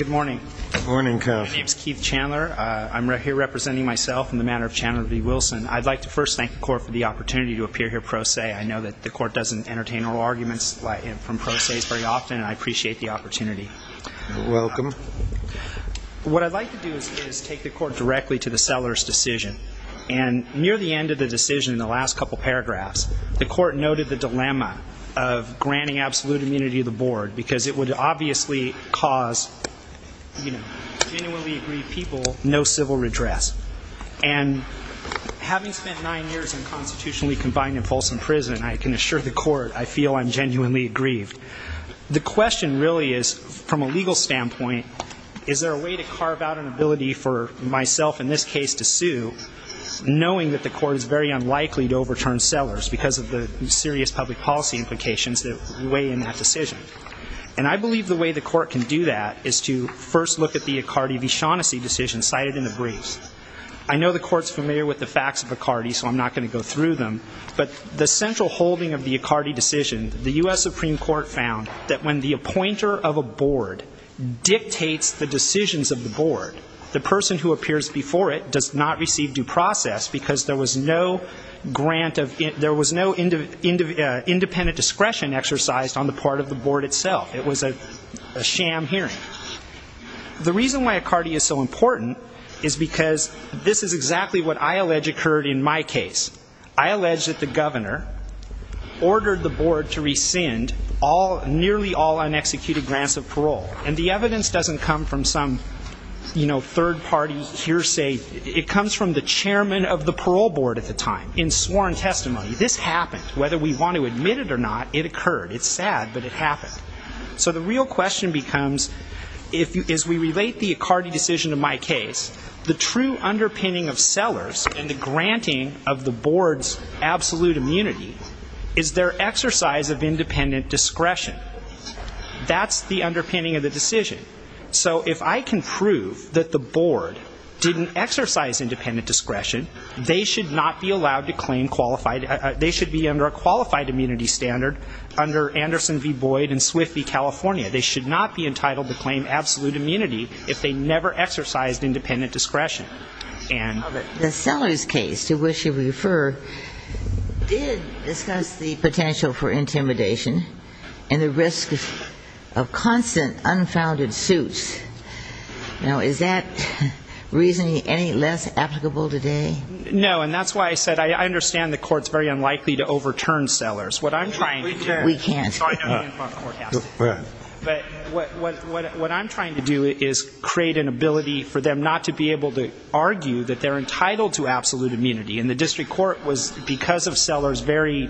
I'd like to first thank the court for the opportunity to appear here pro se I know that the court doesn't entertain oral arguments from pro ses very often and I appreciate the opportunity. Welcome. What I'd like to do is take the court directly to the seller's decision and near the end of the decision in the last couple paragraphs the court noted the dilemma of granting absolute immunity to the board because it would obviously cause, you know, genuinely aggrieved people no civil redress and having spent nine years in constitutionally confined and fulsome prison I can assure the court I feel I'm genuinely aggrieved. The question really is from a legal standpoint is there a way to carve out an ability for myself in this case to sue knowing that the court is very unlikely to overturn sellers because of the serious public policy implications that weigh in that decision. And I believe the way the court can do that is to first look at the Icardi v. Shaughnessy decision cited in the briefs. I know the court's familiar with the facts of Icardi so I'm not going to go through them but the central holding of the Icardi decision, the U.S. Supreme Court found that when the appointer of a board dictates the decisions of the board, the person who appears before it does not receive due process because there was no grant of, there was no independent discretion exercised on the part of the board itself. It was a sham hearing. The reason why Icardi is so important is because this is exactly what I allege occurred in my case. I allege that the governor ordered the board to rescind nearly all unexecuted grants of parole. And the evidence doesn't come from some third party hearsay. It comes from the chairman of the parole board at the time in sworn testimony. This happened. Whether we want to admit it or not, it occurred. It's sad but it happened. So the real question becomes, as we relate the Icardi decision to my case, the true underpinning of sellers and the granting of the board's absolute immunity is their exercise of independent discretion. That's the underpinning of the decision. So if I can prove that the board didn't exercise independent discretion, they should not be allowed to claim qualified, they should be under a qualified immunity standard under Anderson v. Boyd and Swift v. California. They should not be entitled to claim absolute immunity if they never exercised independent discretion. And The sellers case, to which you refer, did discuss the potential for intimidation and the risk of constant unfounded suits. Now, is that reasoning any less applicable today? No. And that's why I said I understand the court's very unlikely to overturn sellers. What I'm trying to do We can't. Sorry. We can't. Go ahead. But what I'm trying to do is create an ability for them not to be able to argue that they're entitled to absolute immunity. And the district court was, because of sellers, very,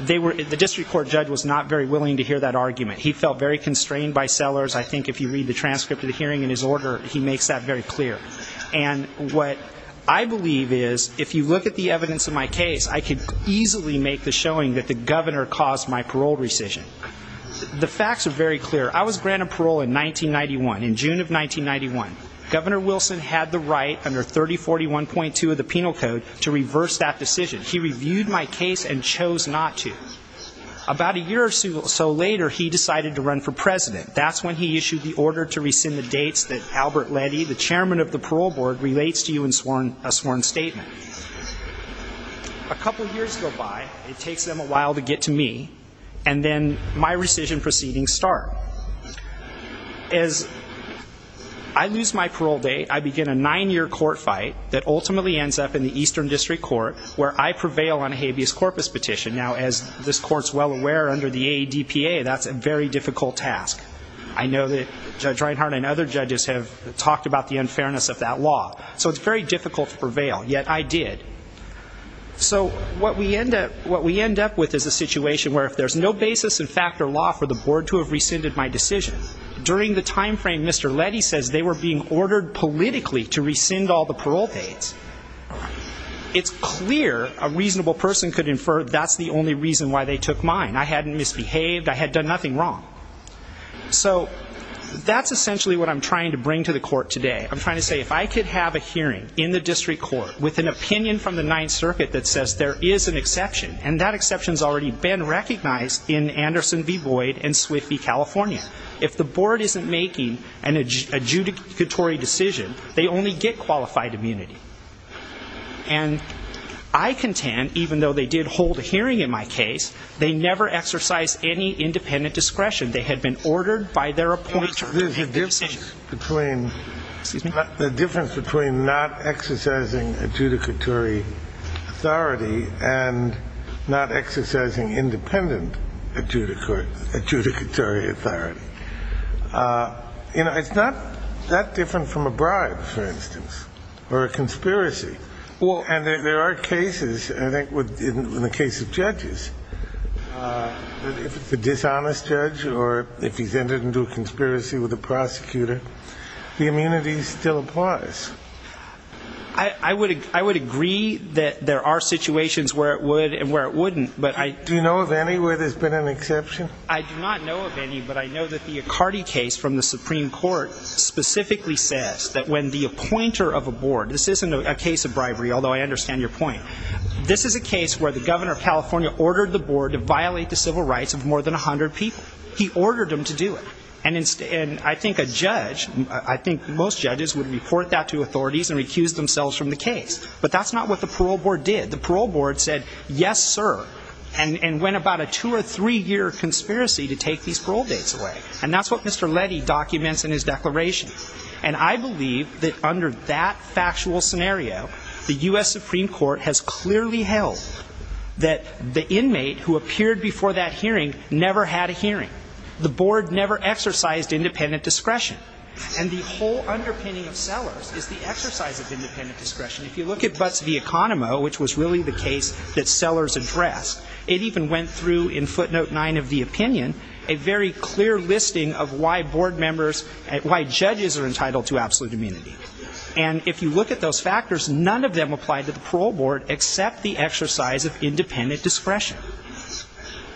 they were, the district court judge was not very willing to hear that argument. He felt very constrained by sellers. I think if you read the transcript of the hearing in his order, he makes that very clear. And what I believe is, if you look at the evidence of my case, I could easily make the The facts are very clear. I was granted parole in 1991, in June of 1991. Governor Wilson had the right, under 3041.2 of the penal code, to reverse that decision. He reviewed my case and chose not to. About a year or so later, he decided to run for president. That's when he issued the order to rescind the dates that Albert Leddy, the chairman of the parole board, relates to you in a sworn statement. A couple of years go by, it takes them a while to get to me, and then my rescission proceedings start. As I lose my parole date, I begin a nine-year court fight that ultimately ends up in the Eastern District Court, where I prevail on a habeas corpus petition. Now, as this court's well aware, under the ADPA, that's a very difficult task. I know that Judge Reinhart and other judges have talked about the unfairness of that law. So it's very difficult to prevail. Yet I did. So what we end up with is a situation where if there's no basis in fact or law for the board to have rescinded my decision, during the time frame Mr. Leddy says they were being ordered politically to rescind all the parole dates, it's clear a reasonable person could infer that's the only reason why they took mine. I hadn't misbehaved. I had done nothing wrong. So that's essentially what I'm trying to bring to the court today. I'm trying to say, if I could have a hearing in the district court with an opinion from the Ninth Circuit that says there is an exception, and that exception's already been recognized in Anderson v. Boyd and Swift v. California. If the board isn't making an adjudicatory decision, they only get qualified immunity. And I contend, even though they did hold a hearing in my case, they never exercised any independent discretion. They had been ordered by their appointee to have their decision. The difference between not exercising adjudicatory authority and not exercising independent adjudicatory authority, it's not that different from a bribe, for instance, or a conspiracy. And there are cases, I think in the case of judges, if it's a dishonest judge or if he's intended to do a conspiracy with a prosecutor, the immunity still applies. I would agree that there are situations where it would and where it wouldn't. But I... Do you know of any where there's been an exception? I do not know of any, but I know that the Accardi case from the Supreme Court specifically says that when the appointer of a board, this isn't a case of bribery, although I understand your point, this is a case where the governor of California ordered the board to violate the civil rights of more than 100 people. He ordered them to do it. And I think a judge, I think most judges would report that to authorities and recuse themselves from the case. But that's not what the parole board did. The parole board said, yes, sir, and went about a two or three-year conspiracy to take these parole dates away. And that's what Mr. Letty documents in his declaration. And I believe that under that factual scenario, the U.S. Supreme Court has clearly held that the inmate who appeared before that hearing never had a hearing. The board never exercised independent discretion. And the whole underpinning of Sellers is the exercise of independent discretion. If you look at Butts v. Economo, which was really the case that Sellers addressed, it even went through, in footnote nine of the opinion, a very clear listing of why board members, why judges are entitled to absolute immunity. And if you look at those factors, none of them applied to the parole board except the discretion.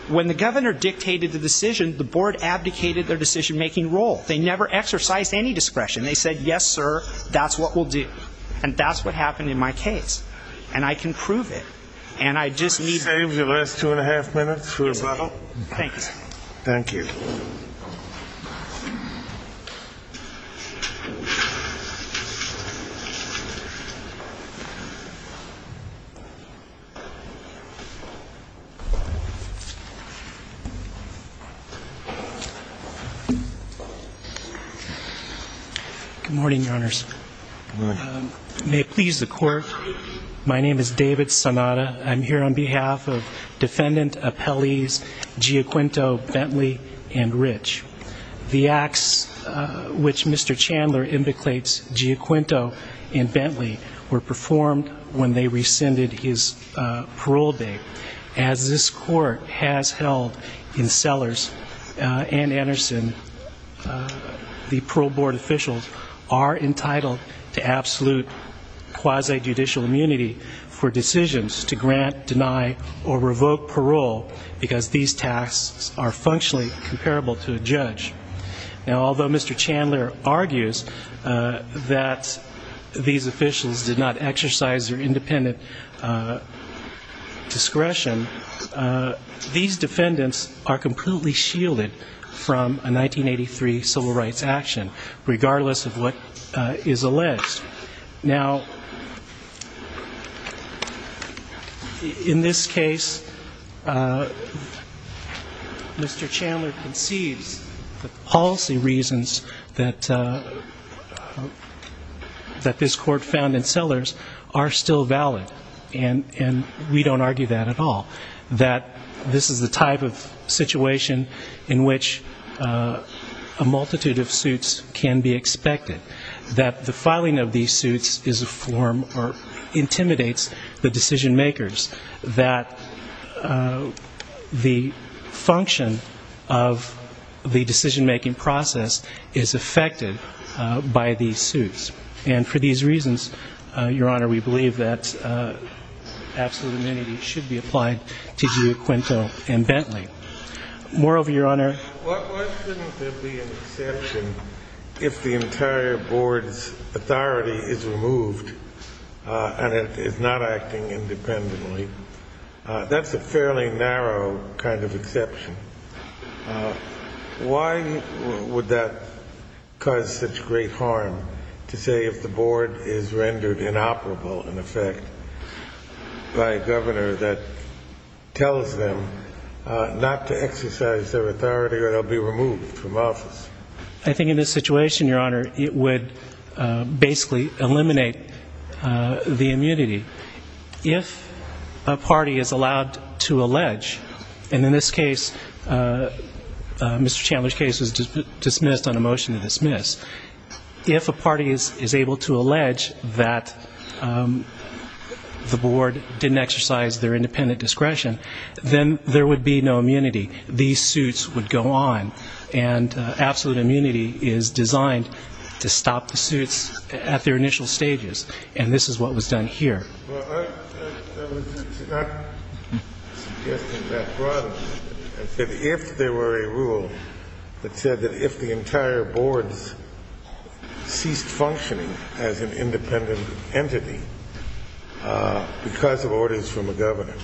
When the governor dictated the decision, the board abdicated their decision-making role. They never exercised any discretion. They said, yes, sir, that's what we'll do. And that's what happened in my case. And I can prove it. And I just need... Save your last two and a half minutes for your brothel. Thanks. Thank you. Good morning, Your Honors. May it please the Court, my name is David Sonata. I'm here on behalf of Defendant Appellees Giacquinto, Bentley, and Rich. The acts which Mr. Chandler impeclates, Giacquinto and Bentley, were performed when they rescinded his parole date. As this Court has held in Sellers and Anderson, the parole board officials are entitled to absolute quasi-judicial immunity for decisions to grant, deny, or revoke parole because these tasks are functionally comparable to a judge. Now, although Mr. Chandler argues that these officials did not exercise their independent discretion, these defendants are completely shielded from a 1983 civil rights action, regardless of what is alleged. Now, in this case, Mr. Chandler conceives that the policy reasons that this Court found in Sellers are still valid, and we don't argue that at all. That this is the type of situation in which a multitude of suits can be expected. That the filing of these suits is a form or intimidates the decision makers. That the function of the decision-making process is affected by these suits. And for these reasons, Your Honor, we believe that absolute immunity should be applied to Giacquinto and Bentley. Moreover, Your Honor. Why shouldn't there be an exception if the entire board's authority is removed and it is not acting independently? That's a fairly narrow kind of exception. Why would that cause such great harm to say if the board is rendered inoperable, in effect, by a governor that tells them not to exercise their authority or they'll be removed from office? I think in this situation, Your Honor, it would basically eliminate the immunity. If a party is allowed to allege, and in this case, Mr. Chandler's case was dismissed on the board didn't exercise their independent discretion, then there would be no immunity. These suits would go on. And absolute immunity is designed to stop the suits at their initial stages. And this is what was done here. Well, I was not suggesting that broadly. I said if there were a rule that said that if the entire board ceased functioning as an independent entity because of orders from a governor,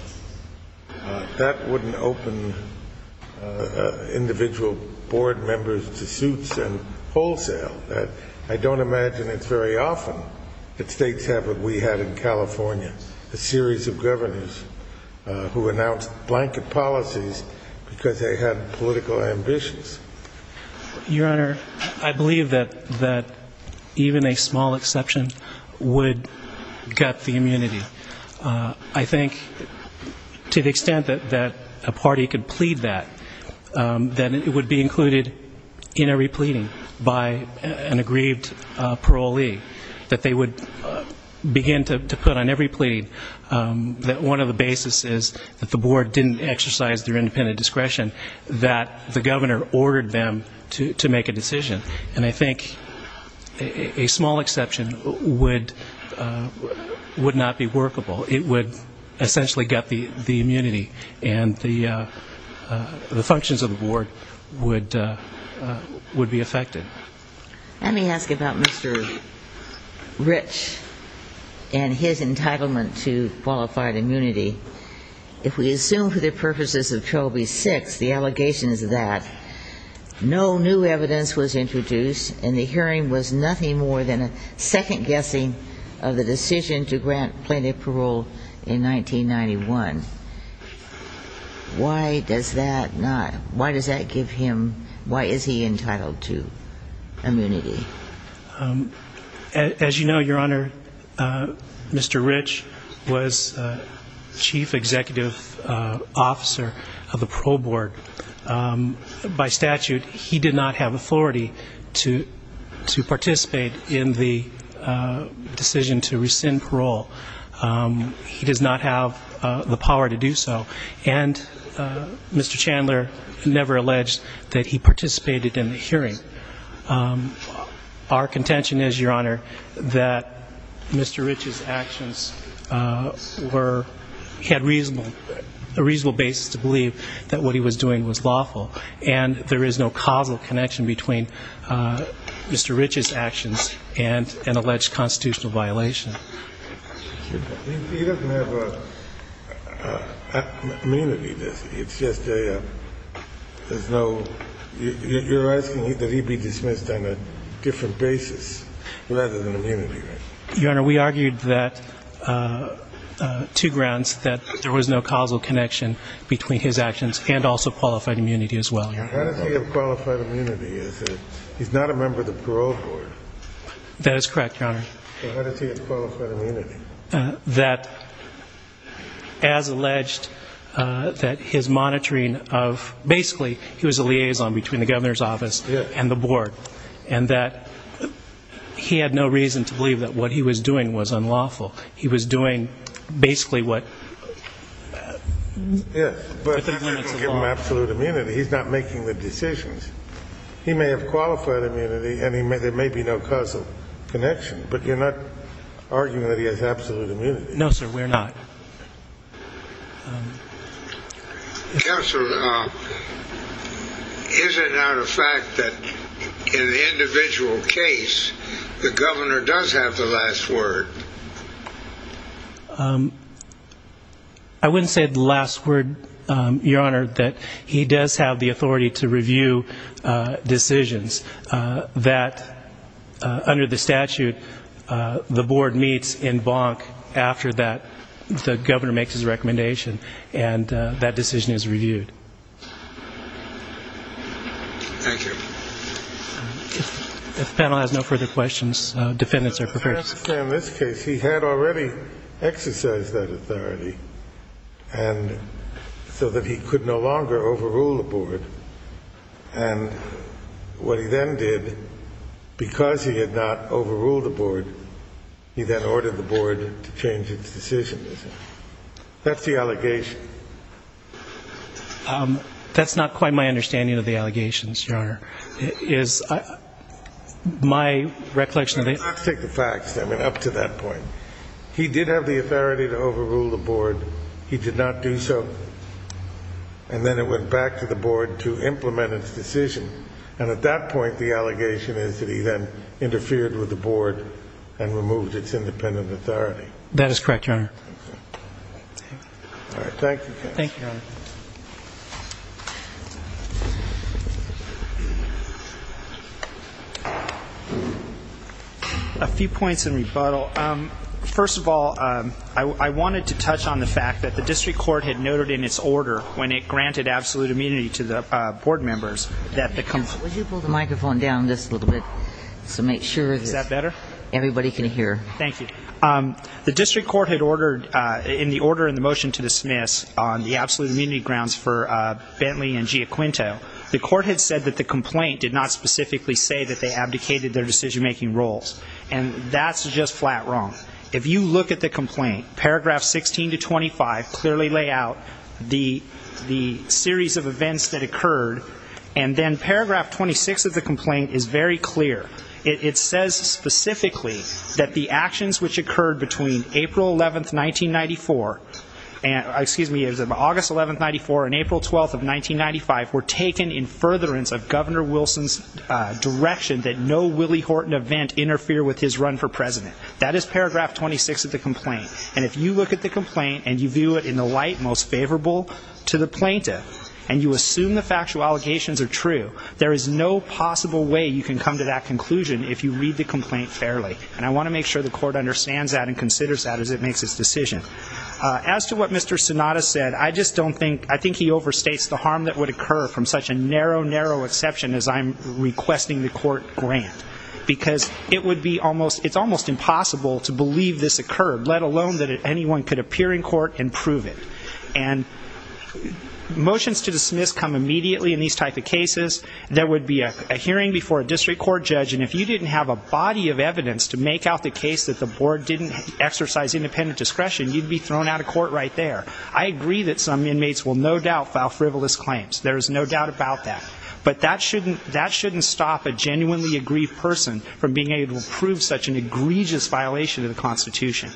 that wouldn't open individual board members to suits and wholesale. I don't imagine it's very often that states have what we had in California, a series of governors who announced blanket policies because they had political ambitions. Your Honor, I believe that even a small exception would gut the immunity. I think to the extent that a party could plead that, that it would be included in every pleading by an aggrieved parolee, that they would begin to put on every plea that one of the basis is that the board didn't exercise their independent discretion, that the governor ordered them to make a decision. And I think a small exception would not be workable. It would essentially gut the immunity. And the functions of the board would be affected. Let me ask about Mr. Rich and his entitlement to qualified immunity. If we assume for the purposes of 12B-6, the allegations that no new evidence was introduced and the hearing was nothing more than a second guessing of the decision to grant plaintiff parole in 1991, why does that not why does that give him why is he entitled to? As you know, Your Honor, Mr. Rich was Chief Executive Officer of the Parole Board. By statute, he did not have authority to participate in the decision to rescind parole. He does not have the power to do so. And Mr. Chandler never alleged that he participated in the hearing. Our contention is, Your Honor, that Mr. Rich's actions had a reasonable basis to believe that what he was doing was lawful. And there is no causal connection between Mr. Rich's actions and an alleged constitutional violation. He doesn't have immunity, does he? It's just a, there's no, you're asking that he be dismissed on a different basis rather than immunity, right? Your Honor, we argued that to grounds that there was no causal connection between his actions and also qualified immunity as well, Your Honor. How does he have qualified immunity? He's not a member of the Parole Board. That is correct, Your Honor. So how does he have qualified immunity? That, as alleged, that his monitoring of, basically, he was a liaison between the Governor's Office and the Board. And that he had no reason to believe that what he was doing was unlawful. He was doing basically what, within the limits of law. Yes, but he didn't give him absolute immunity. He's not making the decisions. He may have qualified immunity, and there may be no causal connection. But you're not arguing that he has absolute immunity. No, sir, we're not. Counsel, is it not a fact that in the individual case, the Governor does have the last word? I wouldn't say the last word, Your Honor, that he does have the authority to review decisions that, under the statute, the Board meets in bonk after the Governor makes his recommendation. And that decision is reviewed. Thank you. If the panel has no further questions, defendants are preferred. In this case, he had already exercised that authority, so that he could no longer overrule the Board. And what he then did, because he had not overruled the Board, he then ordered the Board to change its decision. That's the allegation. That's not quite my understanding of the allegations, Your Honor. My recollection of it is... Let's take the facts, I mean, up to that point. He did have the authority to overrule the Board. He did not do so. And then it went back to the Board to implement its decision. And at that point, the allegation is that he then interfered with the Board and removed its independent authority. That is correct, Your Honor. All right, thank you, counsel. Thank you, Your Honor. A few points in rebuttal. First of all, I wanted to touch on the fact that the district court had noted in its order, when it granted absolute immunity to the Board members, that the... Would you pull the microphone down just a little bit to make sure that everybody can hear? Is that better? Thank you. The district court had ordered in the order in the motion to dismiss on the absolute immunity grounds for Bentley and Giaquinto, the court had said that the complaint did not specifically say that they abdicated their decision-making roles. And that's just flat wrong. If you look at the complaint, paragraphs 16 to 25 clearly lay out the series of events that occurred. And then paragraph 26 of the complaint is very clear. It says specifically that the actions which occurred between April 11th, 1994... Excuse me, it was August 11th, 1994 and April 12th of 1995 were taken in furtherance of Governor Wilson's direction that no Willie Horton event interfere with his run for president. That is paragraph 26 of the complaint. And if you look at the complaint and you view it in the light most favorable to the plaintiff, and you assume the factual allegations are true, there is no possible way you can come to that conclusion if you read the complaint fairly. And I want to make sure the court understands that and considers that as it makes its decision. As to what Mr. Sonata said, I just don't think, I think he overstates the harm that would occur from such a narrow, narrow exception as I'm requesting the court grant. Because it would be almost, it's almost impossible to believe this occurred, let alone that anyone could appear in court and prove it. And motions to dismiss come immediately in these type of cases. There would be a hearing before a district court judge, and if you didn't have a body of evidence to make out the case that the board didn't exercise independent discretion, you'd be thrown out of court right there. I agree that some inmates will no doubt file frivolous claims. There is no doubt about that. But that shouldn't stop a genuinely aggrieved person from being able to prove such an egregious violation of the Constitution.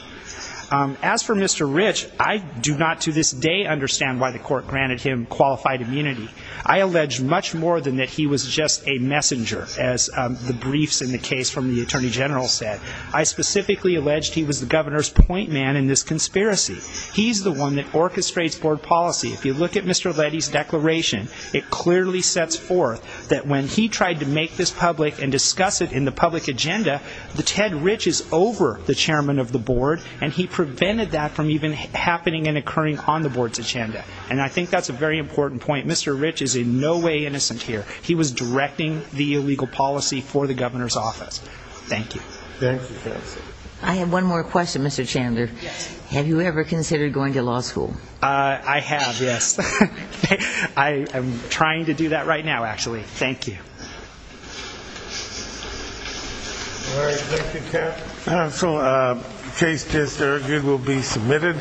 As for Mr. Rich, I do not to this day understand why the court granted him qualified immunity. I allege much more than that he was just a messenger, as the briefs in the case from the Attorney General said. I specifically alleged he was the governor's point man in this conspiracy. He's the one that orchestrates board policy. If you look at Mr. Letty's declaration, it clearly sets forth that when he tried to make this public and discuss it in the public agenda, Ted Rich is over the chairman of the board, and he prevented that from even happening and occurring on the board's agenda. And I think that's a very important point. Mr. Rich is in no way innocent here. He was directing the illegal policy for the governor's office. Thank you. I have one more question, Mr. Chandler. Have you ever considered going to law school? I have, yes. I am trying to do that right now, actually. Thank you. All right. Thank you, counsel. Case dis-argued will be submitted.